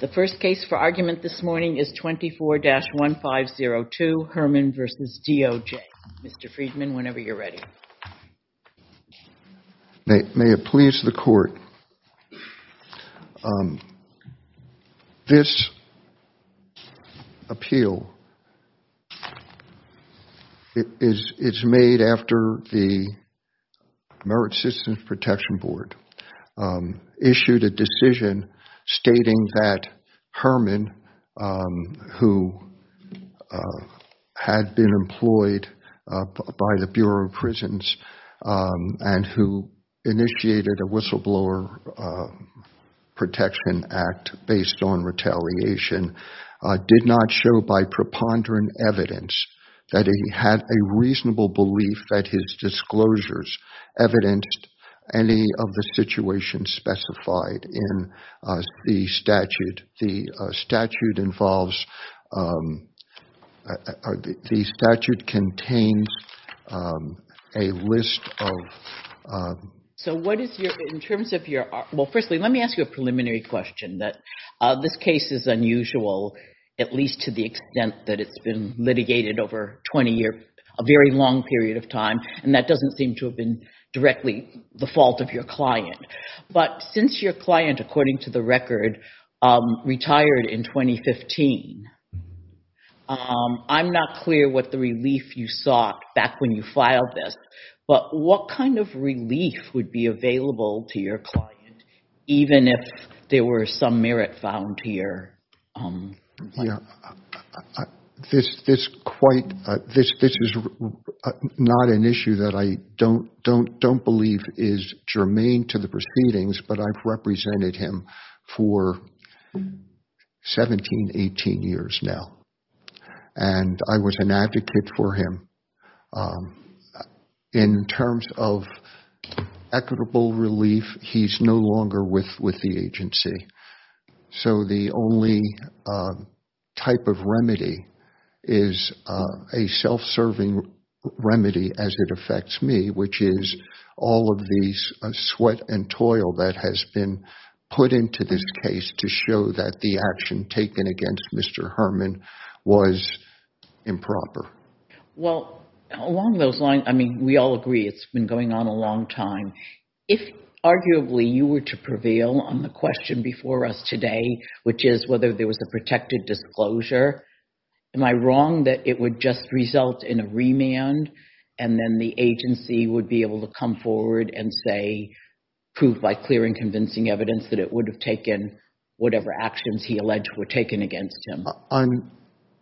The first case for argument this morning is 24-1502, Herman v. DOJ. Mr. Friedman, whenever you're ready. May it please the Court. This appeal is made after the Merit Citizens Protection Board issued a decision stating that Herman, who had been employed by the Bureau of Prisons and who initiated a whistleblower protection act based on retaliation, did not show by preponderant evidence that he had a reasonable belief that his disclosures evidenced any of the situations specified in the statute. The statute involves, the statute contains a list of... So what is your, in terms of your, well firstly let me ask you a preliminary question that this case is unusual at least to the extent that it's been litigated over 20 years, a very long period of time, and that doesn't seem to have been directly the fault of your client. But since your client, according to the record, retired in 2015, I'm not clear what the relief you sought back when you filed this, but what kind of relief would be available to your client, even if there were some merit found here? This is not an issue that I don't believe is germane to the proceedings, but I've represented him for 17, 18 years now. And I was an advocate for him. In terms of equitable relief, he's no longer with the agency. So the only type of remedy is a self-serving remedy as it affects me, which is all of these sweat and toil that has been put into this case to show that the action taken against Mr. Herman was improper. Well, along those lines, I mean, we all agree it's been going on a long time. If arguably you were to prevail on the question before us today, which is whether there was a protected disclosure, am I wrong that it would just result in a remand, and then the agency would be able to come forward and say, prove by clear and convincing evidence that it would have taken whatever actions he alleged were taken against him?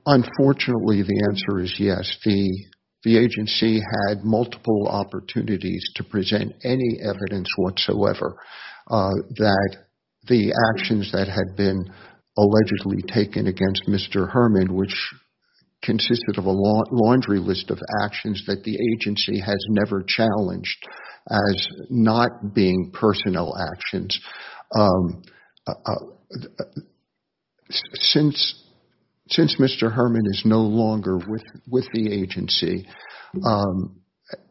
Unfortunately, the answer is yes. The agency had multiple opportunities to present any evidence whatsoever that the actions that had been allegedly taken against Mr. Herman, which consisted of a laundry list of actions that the agency has never challenged as not being personal actions. Since Mr. Herman is no longer with the agency,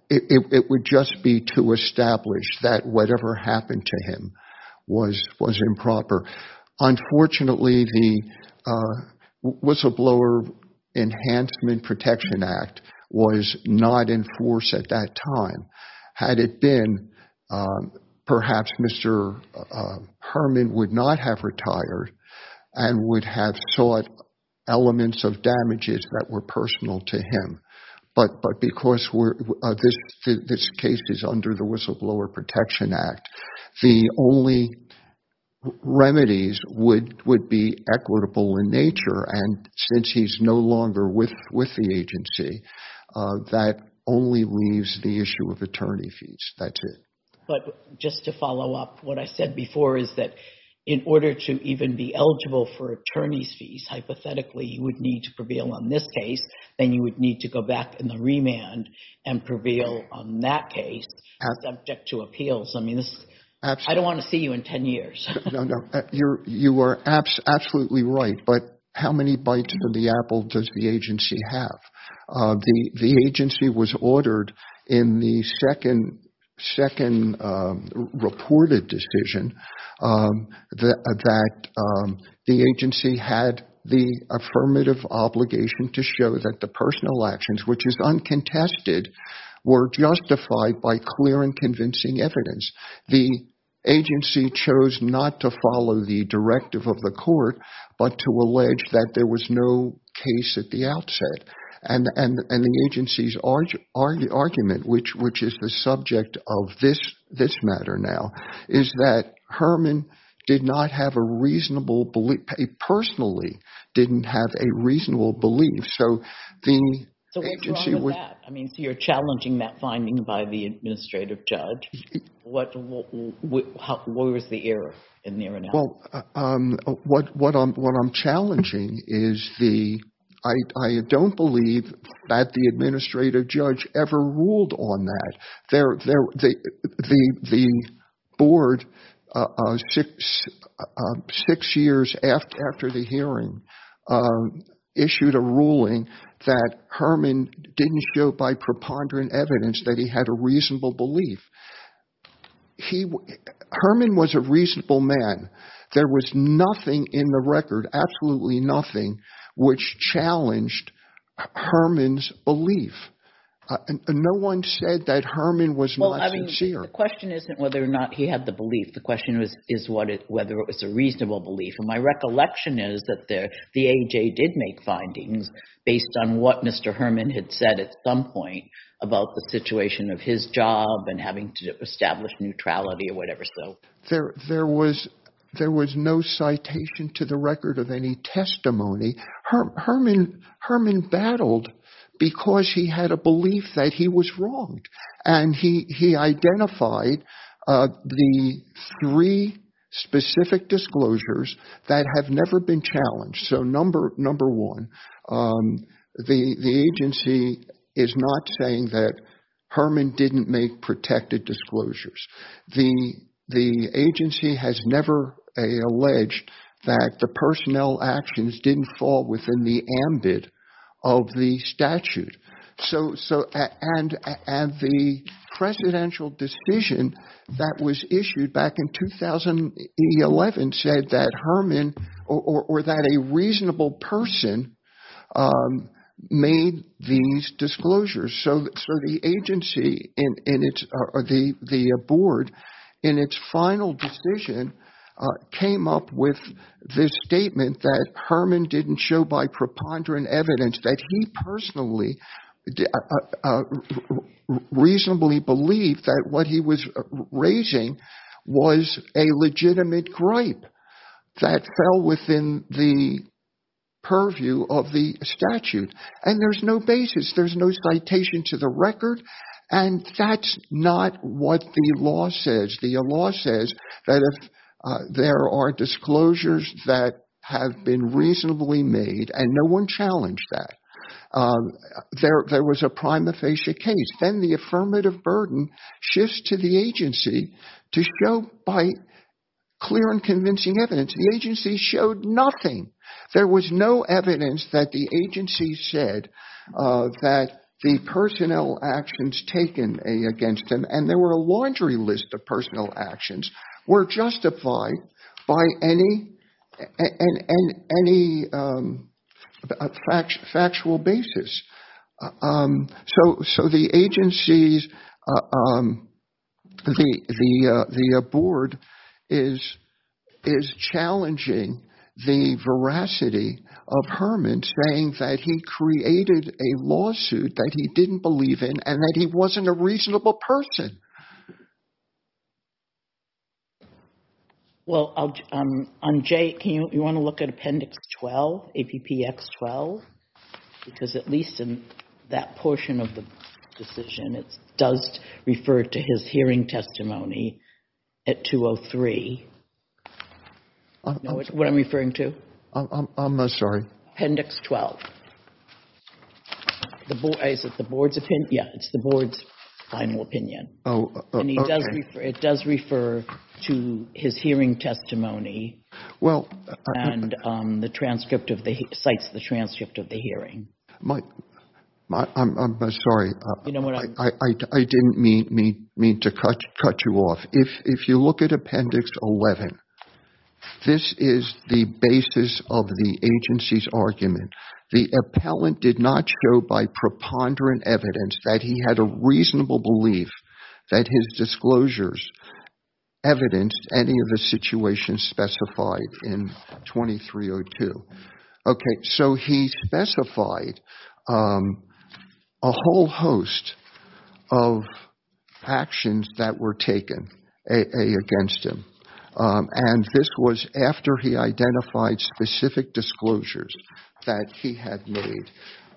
it would just be to establish that whatever happened to him was improper. Unfortunately, the Whistleblower Enhancement Protection Act was not in force at that time. Had it been, perhaps Mr. Herman would not have retired and would have sought elements of damages that were personal to him. But because this case is under the Whistleblower Protection Act, the only remedies would be equitable in nature, and since he's no longer with the agency, that only leaves the issue of attorney fees. That's it. But just to follow up, what I said before is that in order to even be eligible for attorney's fees, hypothetically, you would need to prevail on this case, then you would need to go back in the remand and prevail on that case, subject to appeals. I don't want to see you in 10 years. You are absolutely right, but how many bites of the apple does the agency have? The agency was ordered in the second reported decision that the agency had the affirmative obligation to show that the personal actions, which is uncontested, were justified by clear and convincing evidence. The agency chose not to follow the directive of the court, but to allege that there was no case at the outset. The agency's argument, which is the subject of this matter now, is that Herman personally didn't have a reasonable belief. So what's wrong with that? You're challenging that finding by the administrative judge. What was the error in there? Well, what I'm challenging is the I don't believe that the administrative judge ever ruled on that. The board, six years after the hearing, issued a ruling that Herman didn't show by preponderant evidence that he had a reasonable belief. Herman was a reasonable man. There was nothing in the record, absolutely nothing, which challenged Herman's belief. No one said that Herman was not sincere. The question isn't whether or not he had the belief. The question is whether it was a reasonable belief. My recollection is that the AJ did make findings based on what Mr. Herman had said at some point about the situation of his job and having to establish neutrality or whatever. There was no citation to the record of any testimony. Herman battled because he had a belief that he was wrong. And he identified the three specific disclosures that have never been challenged. So number one, the agency is not saying that Herman didn't make protected disclosures. The agency has never alleged that the personnel actions didn't fall within the ambit of the statute. And the presidential decision that was issued back in 2011 said that Herman or that a reasonable person made these disclosures. So the agency, the board, in its final decision came up with this statement that Herman didn't show by preponderant evidence that he personally reasonably believed that what he was raising was a legitimate gripe that fell within the purview of the statute. And there's no basis. There's no citation to the record. And that's not what the law says. The law says that if there are disclosures that have been reasonably made and no one challenged that, there was a prima facie case. Then the affirmative burden shifts to the agency to show by clear and convincing evidence. The agency showed nothing. There was no evidence that the agency said that the personnel actions taken against him, and there were a laundry list of personnel actions, were justified by any factual basis. So the agency, the board, is challenging the veracity of Herman saying that he created a lawsuit that he didn't believe in and that he wasn't a reasonable person. Well, Jay, do you want to look at Appendix 12, APPX 12? Because at least in that portion of the decision, it does refer to his hearing testimony at 203. Do you know what I'm referring to? I'm sorry. Appendix 12. Is it the board's opinion? Yes, it's the board's final opinion. It does refer to his hearing testimony and cites the transcript of the hearing. I'm sorry. I didn't mean to cut you off. If you look at Appendix 11, this is the basis of the agency's argument. The appellant did not show by preponderant evidence that he had a reasonable belief that his disclosures evidenced any of the situations specified in 2302. So he specified a whole host of actions that were taken against him, and this was after he identified specific disclosures that he had made.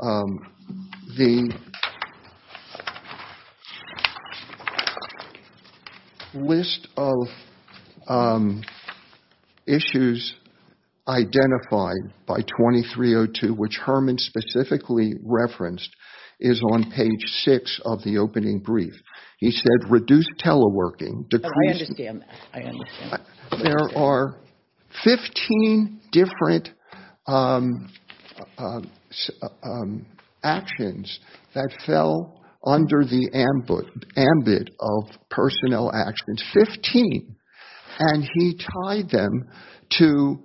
The list of issues identified by 2302, which Herman specifically referenced, is on page 6 of the opening brief. He said reduce teleworking. I understand that. There are 15 different actions that fell under the ambit of personnel actions, 15, and he tied them to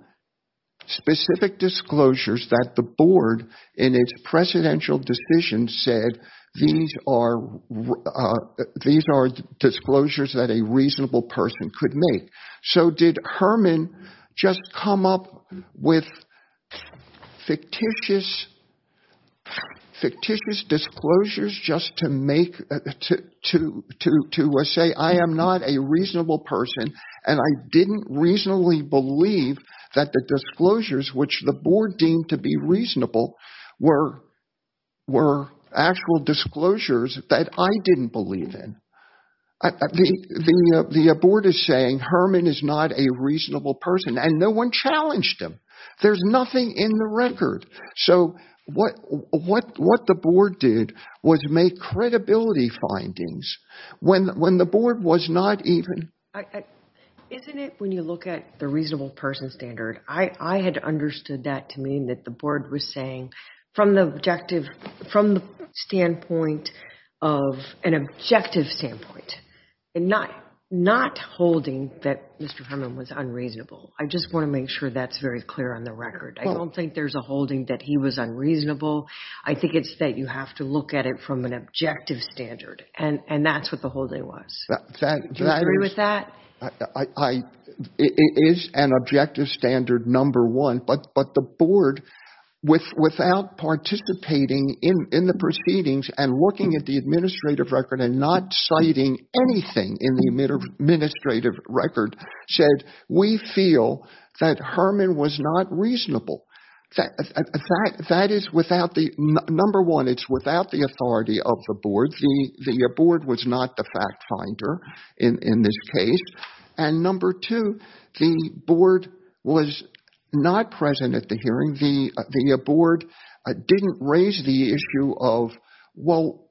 specific disclosures that the board in its presidential decision said these are disclosures that a reasonable person could make. So did Herman just come up with fictitious disclosures just to say I am not a reasonable person and I didn't reasonably believe that the disclosures which the board deemed to be reasonable were actual disclosures that I didn't believe in? The board is saying Herman is not a reasonable person and no one challenged him. There's nothing in the record. So what the board did was make credibility findings when the board was not even... Isn't it when you look at the reasonable person standard, I had understood that to mean that the board was saying from the standpoint of an objective standpoint and not holding that Mr. Herman was unreasonable. I just want to make sure that's very clear on the record. I don't think there's a holding that he was unreasonable. I think it's that you have to look at it from an objective standard, and that's what the holding was. Do you agree with that? It is an objective standard, number one, but the board without participating in the proceedings and looking at the administrative record and not citing anything in the administrative record said we feel that Herman was not reasonable. That is without the... Number one, it's without the authority of the board. Number one, the board was not the fact finder in this case, and number two, the board was not present at the hearing. The board didn't raise the issue of, well,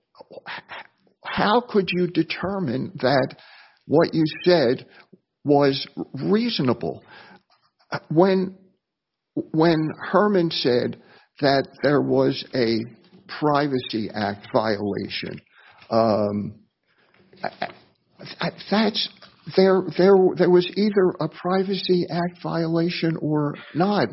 how could you determine that what you said was reasonable when Herman said that there was a Privacy Act violation? There was either a Privacy Act violation or not,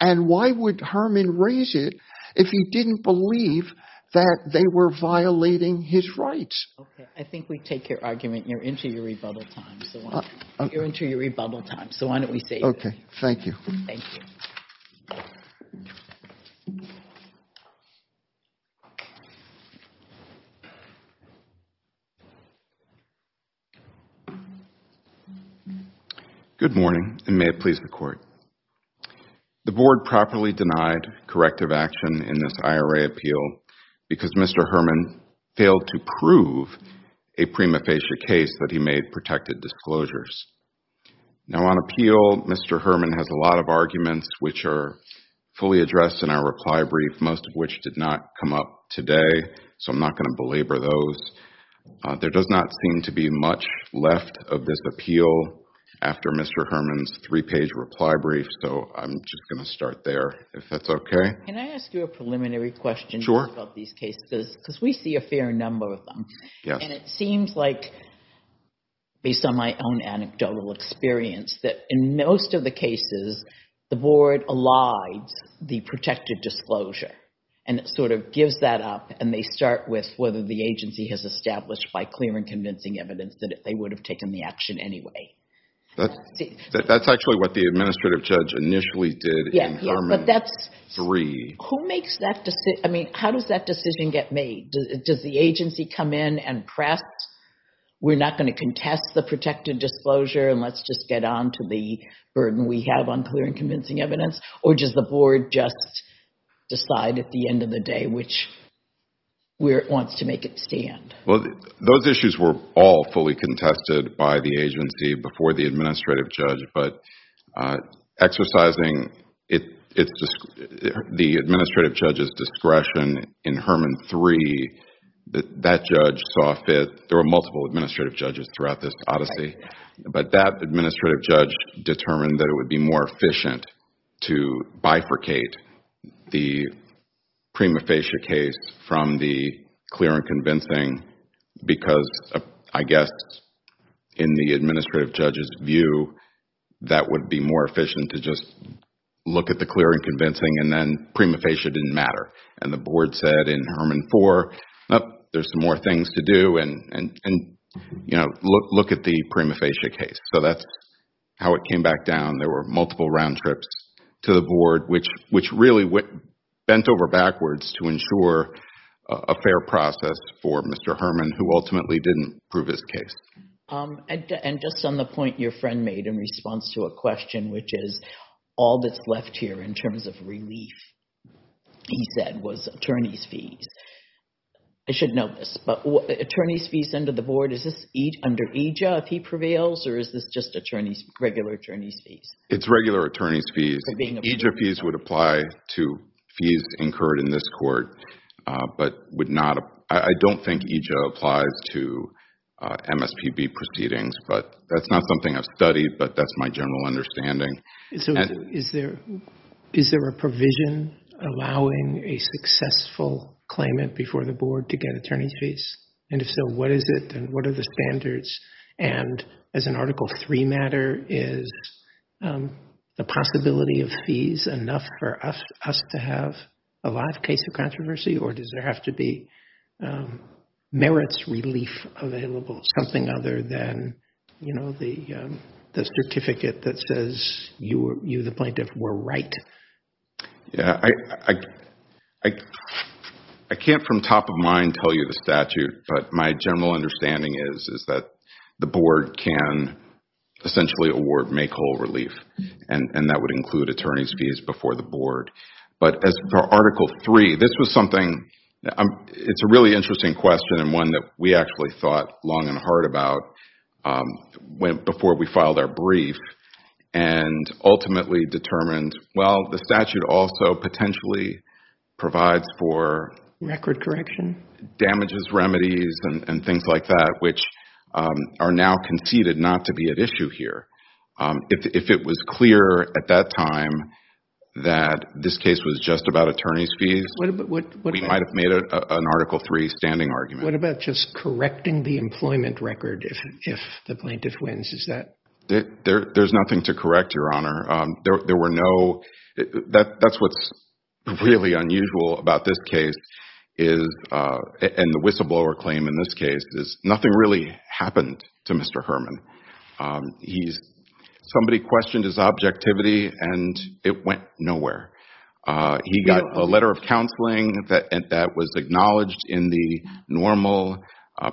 and why would Herman raise it if he didn't believe that they were violating his rights? Okay, I think we take your argument, and you're into your rebuttal time, so why don't we save it? Okay, thank you. Thank you. Good morning, and may it please the Court. The board properly denied corrective action in this IRA appeal because Mr. Herman failed to prove a prima facie case that he made protected disclosures. Now, on appeal, Mr. Herman has a lot of arguments which are fully addressed in our reply brief, most of which did not come up today, so I'm not going to belabor those. There does not seem to be much left of this appeal after Mr. Herman's three-page reply brief, so I'm just going to start there, if that's okay. Can I ask you a preliminary question about these cases? Because we see a fair number of them, and it seems like, based on my own anecdotal experience, that in most of the cases, the board allides the protected disclosure, and it sort of gives that up, and they start with whether the agency has established by clear and convincing evidence that they would have taken the action anyway. That's actually what the administrative judge initially did in Herman 3. Who makes that decision? I mean, how does that decision get made? Does the agency come in and press, we're not going to contest the protected disclosure, and let's just get on to the burden we have on clear and convincing evidence, or does the board just decide at the end of the day which way it wants to make it stand? Those issues were all fully contested by the agency before the administrative judge, but exercising the administrative judge's discretion in Herman 3, that judge saw fit. There were multiple administrative judges throughout this odyssey, but that administrative judge determined that it would be more efficient to bifurcate the prima facie case from the clear and convincing because, I guess, in the administrative judge's view, that would be more efficient to just look at the clear and convincing, and then prima facie didn't matter, and the board said in Herman 4, there's some more things to do, and look at the prima facie case. So that's how it came back down. There were multiple round trips to the board, which really bent over backwards to ensure a fair process for Mr. Herman, who ultimately didn't prove his case. And just on the point your friend made in response to a question, which is all that's left here in terms of relief, he said, was attorney's fees. I should note this, but attorney's fees under the board, is this under EJA if he prevails, or is this just regular attorney's fees? It's regular attorney's fees. EJA fees would apply to fees incurred in this court, but I don't think EJA applies to MSPB proceedings, but that's not something I've studied, but that's my general understanding. Is there a provision allowing a successful claimant before the board to get attorney's fees? And if so, what is it, and what are the standards? And as an Article 3 matter, is the possibility of fees enough for us to have a live case of controversy, or does there have to be merits relief available, something other than the certificate that says you, the plaintiff, were right? Yeah, I can't from top of mind tell you the statute, but my general understanding is that the board can essentially award make whole relief, and that would include attorney's fees before the board. But as for Article 3, this was something, it's a really interesting question, and one that we actually thought long and hard about before we filed our brief, and ultimately determined, well, the statute also potentially provides for Record correction? Damages, remedies, and things like that, which are now conceded not to be at issue here. If it was clear at that time that this case was just about attorney's fees, we might have made an Article 3 standing argument. What about just correcting the employment record if the plaintiff wins? There's nothing to correct, Your Honor. That's what's really unusual about this case, and the whistleblower claim in this case, is nothing really happened to Mr. Herman. Somebody questioned his objectivity, and it went nowhere. He got a letter of counseling that was acknowledged in the normal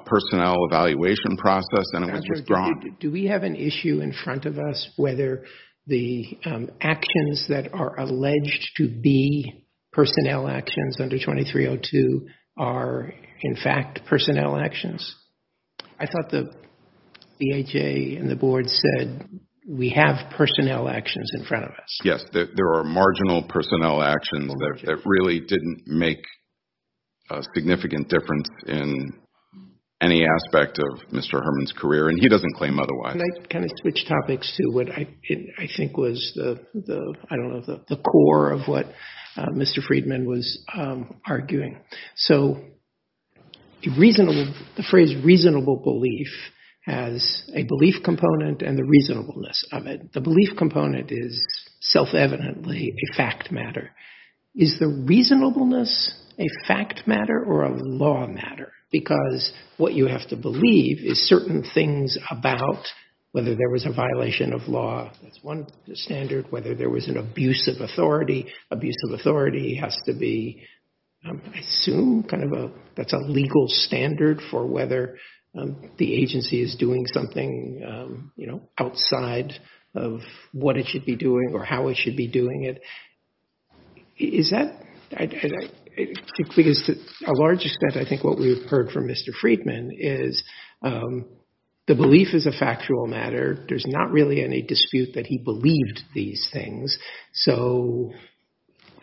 personnel evaluation process, and it was withdrawn. Do we have an issue in front of us whether the actions that are alleged to be personnel actions under 2302 are, in fact, personnel actions? I thought the BHA and the board said, we have personnel actions in front of us. Yes, there are marginal personnel actions that really didn't make a significant difference in any aspect of Mr. Herman's career, and he doesn't claim otherwise. Can I kind of switch topics to what I think was the, I don't know, the core of what Mr. Friedman was arguing? So the phrase reasonable belief has a belief component and the reasonableness of it. The belief component is self-evidently a fact matter. Is the reasonableness a fact matter or a law matter? Because what you have to believe is certain things about whether there was a violation of law. That's one standard. Whether there was an abuse of authority. Abuse of authority has to be, I assume, kind of a legal standard for whether the agency is doing something outside of what it should be doing or how it should be doing it. Is that, because to a large extent, I think what we've heard from Mr. Friedman is the belief is a factual matter. There's not really any dispute that he believed these things. So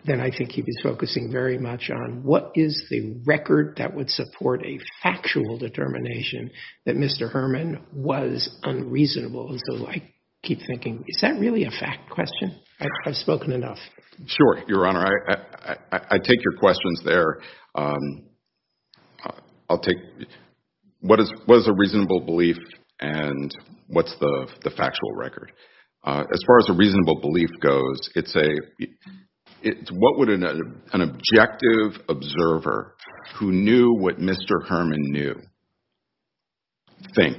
then I think he was focusing very much on what is the record that would support a factual determination that Mr. Herman was unreasonable. And so I keep thinking, is that really a fact question? I've spoken enough. Sure, Your Honor. I take your questions there. I'll take, what is a reasonable belief and what's the factual record? As far as a reasonable belief goes, it's what would an objective observer who knew what Mr. Herman knew think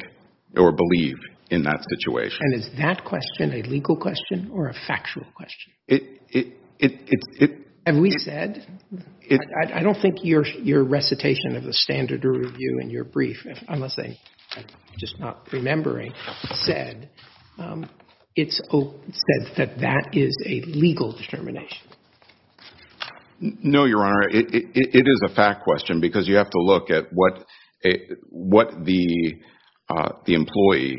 or believe in that situation? And is that question a legal question or a factual question? Have we said? I don't think your recitation of the standard review in your brief, unless I'm just not remembering, said that that is a legal determination. No, Your Honor. It is a fact question because you have to look at what the employee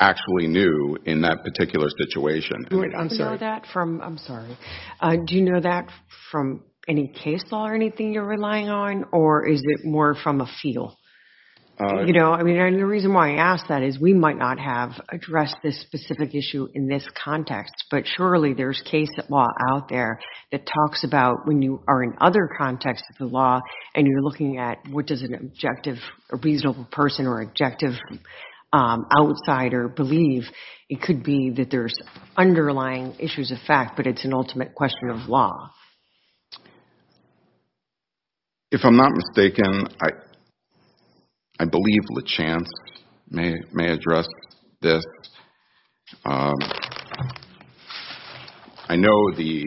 actually knew in that particular situation. I'm sorry. I'm sorry. Do you know that from any case law or anything you're relying on or is it more from a feel? The reason why I ask that is we might not have addressed this specific issue in this context, but surely there's case law out there that talks about when you are in other contexts of the law and you're looking at what does a reasonable person or objective outsider believe. It could be that there's underlying issues of fact, but it's an ultimate question of law. If I'm not mistaken, I believe LaChance may address this. I know the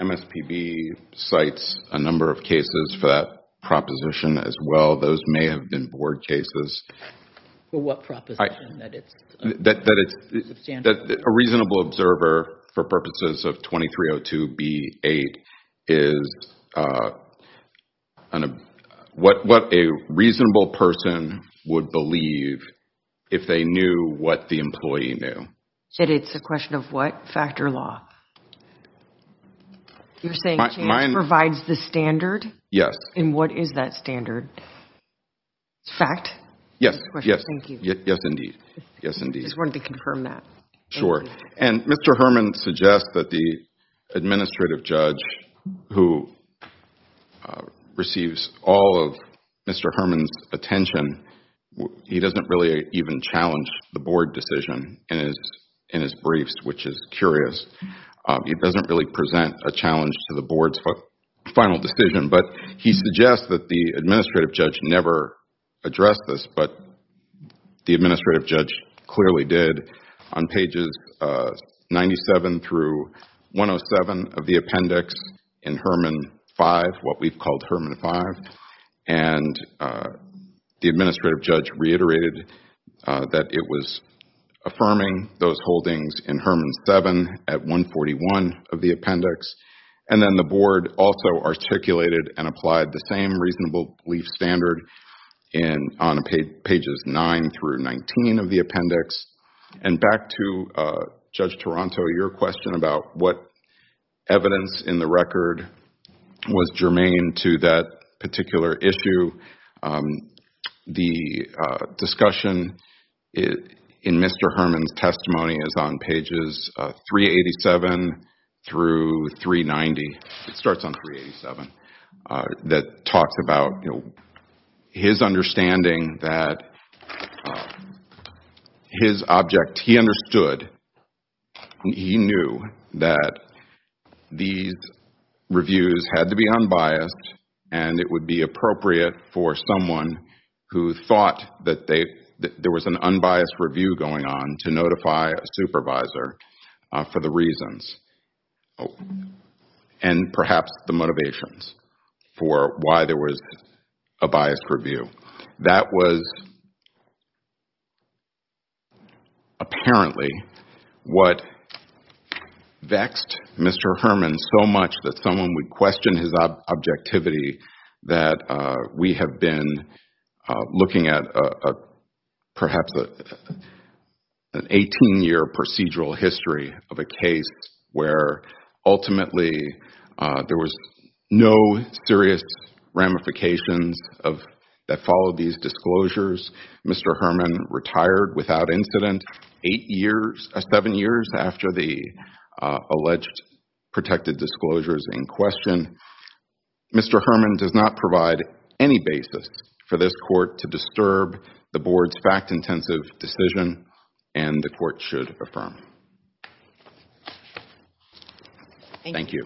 MSPB cites a number of cases for that proposition as well. Those may have been board cases. What proposition? That it's a reasonable observer for purposes of 2302B8 is what a reasonable person would believe if they knew what the employee knew. It's a question of what? Fact or law? You're saying LaChance provides the standard? Yes. What is that standard? It's fact? Yes. Thank you. Yes, indeed. I just wanted to confirm that. Sure. Mr. Herman suggests that the administrative judge who receives all of Mr. Herman's attention, he doesn't really even challenge the board decision in his briefs, which is curious. He doesn't really present a challenge to the board's final decision, but he suggests that the administrative judge never addressed this, but the administrative judge clearly did on pages 97 through 107 of the appendix in Herman 5, what we've called Herman 5. The administrative judge reiterated that it was affirming those holdings in Herman 7 at 141 of the appendix. Then the board also articulated and applied the same reasonable belief standard on pages 9 through 19 of the appendix. Back to Judge Toronto, your question about what evidence in the record was germane to that particular issue. The discussion in Mr. Herman's testimony is on pages 387 through 390. It starts on 387. That talks about his understanding that his object, he understood, he knew that these reviews had to be unbiased and it would be appropriate for someone who thought that there was an unbiased review going on to notify a supervisor for the reasons and perhaps the motivations for why there was a biased review. That was apparently what vexed Mr. Herman so much that someone would question his objectivity that we have been looking at perhaps an 18-year procedural history of a case where ultimately there was no serious ramifications that followed these disclosures. Mr. Herman retired without incident seven years after the alleged protected disclosures in question. Mr. Herman does not provide any basis for this court to disturb the board's fact-intensive decision and the court should affirm. Thank you.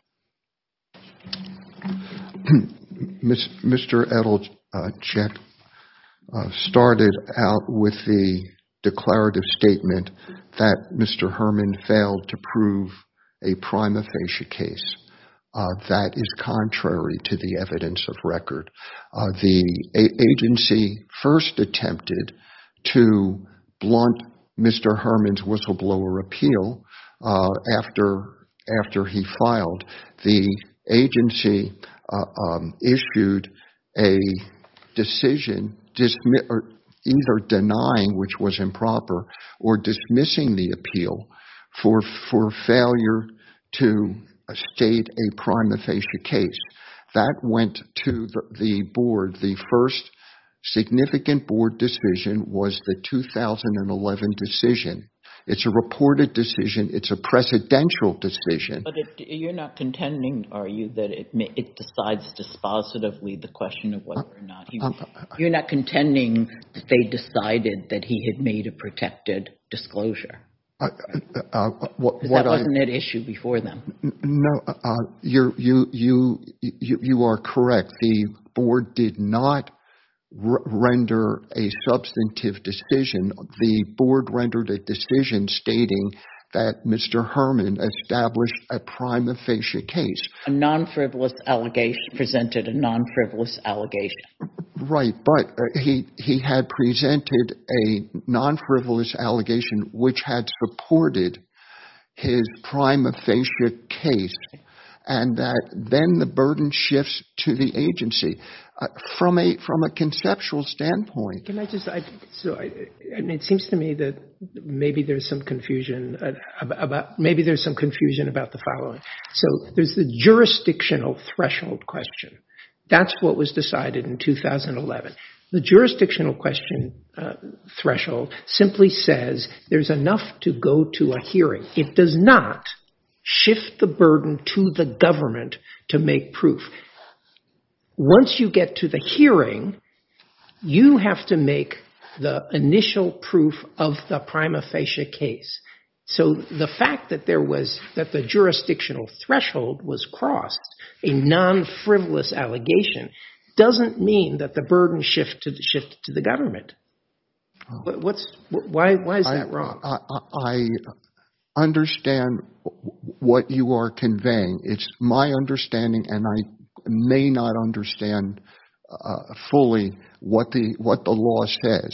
Mr. Edelcheck started out with the declarative statement that Mr. Herman failed to prove a prima facie case. That is contrary to the evidence of record. The agency first attempted to blunt Mr. Herman's whistleblower appeal after he filed. The agency issued a decision either denying, which was improper, or dismissing the appeal for failure to state a prima facie case. That went to the board. The first significant board decision was the 2011 decision. It's a reported decision. It's a precedential decision. But you're not contending, are you, that it decides dispositively the question of whether or not he... You're not contending that they decided that he had made a protected disclosure? Because that wasn't at issue before them. No. You are correct. The board did not render a substantive decision. The board rendered a decision stating that Mr. Herman established a prima facie case. A non-frivolous allegation presented a non-frivolous allegation. Right. But he had presented a non-frivolous allegation which had supported his prima facie case, and that then the burden shifts to the agency. From a conceptual standpoint... It seems to me that maybe there's some confusion about the following. So there's the jurisdictional threshold question. That's what was decided in 2011. The jurisdictional question threshold simply says there's enough to go to a It does not shift the burden to the government to make proof. Once you get to the hearing, you have to make the initial proof of the prima facie case. So the fact that there was... that the jurisdictional threshold was crossed, a non-frivolous allegation, doesn't mean that the burden shifted to the government. Why is that wrong? I understand what you are conveying. It's my understanding, and I may not understand fully what the law says.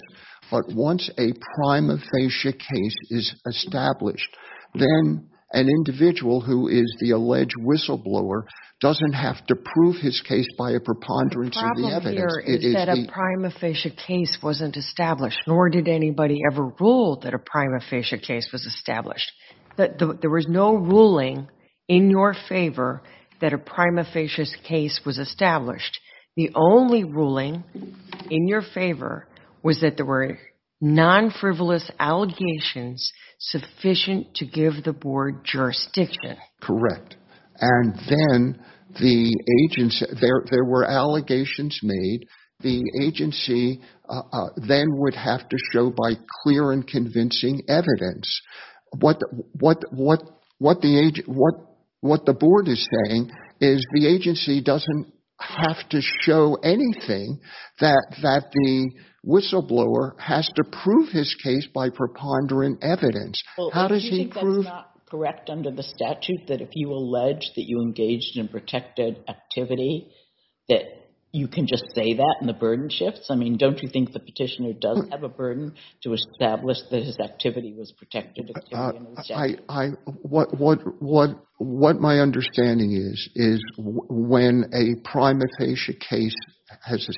But once a prima facie case is established, then an individual who is the alleged whistleblower doesn't have to prove his case by a preponderance of the evidence. The problem here is that a prima facie case wasn't established, nor did anybody ever rule that a prima facie case was established. There was no ruling in your favor that a prima facie case was established. The only ruling in your favor was that there were non-frivolous allegations sufficient to give the board jurisdiction. Correct. And then the agency... there were allegations made. The agency then would have to show by clear and convincing evidence what the agency... what the board is saying is the agency doesn't have to show anything that the whistleblower has to prove his case by preponderant evidence. How does he prove... Well, don't you think that's not correct under the statute, that if you allege that you engaged in protected activity, that you can just say that and the burden shifts? I mean, don't you think the petitioner does have a burden to establish that his activity was protected? What my understanding is is when a prima facie case is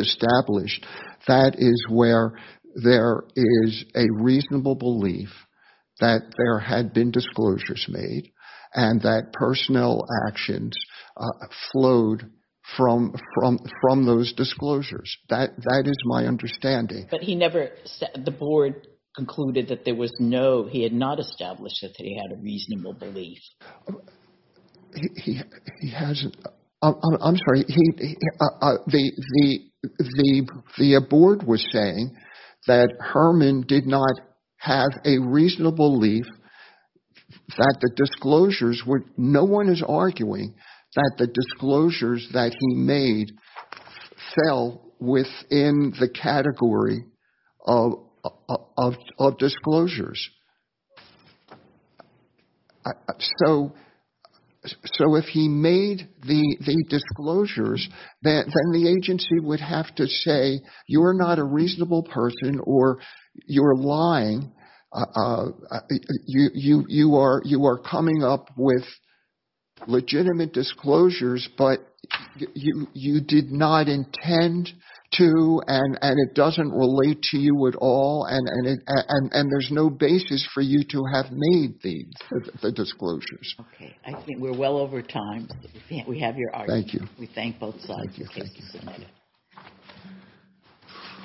established, that is where there is a reasonable belief that there had been disclosures made and that personnel actions flowed from those disclosures. That is my understanding. But he never... the board concluded that there was no... he had not established that he had a reasonable belief. He hasn't... I'm sorry. The board was saying that Herman did not have a reasonable belief that the disclosures were... no one is arguing that the disclosures that he made fell within the category of disclosures. So if he made the disclosures, then the agency would have to say you are not a reasonable person or you are lying. You are coming up with legitimate disclosures, but you did not engage in what you intend to and it doesn't relate to you at all and there is no basis for you to have made the disclosures. Okay. I think we are well over time. We have your argument. Thank you. We thank both sides. Thank you. Thank you. Thank you so much.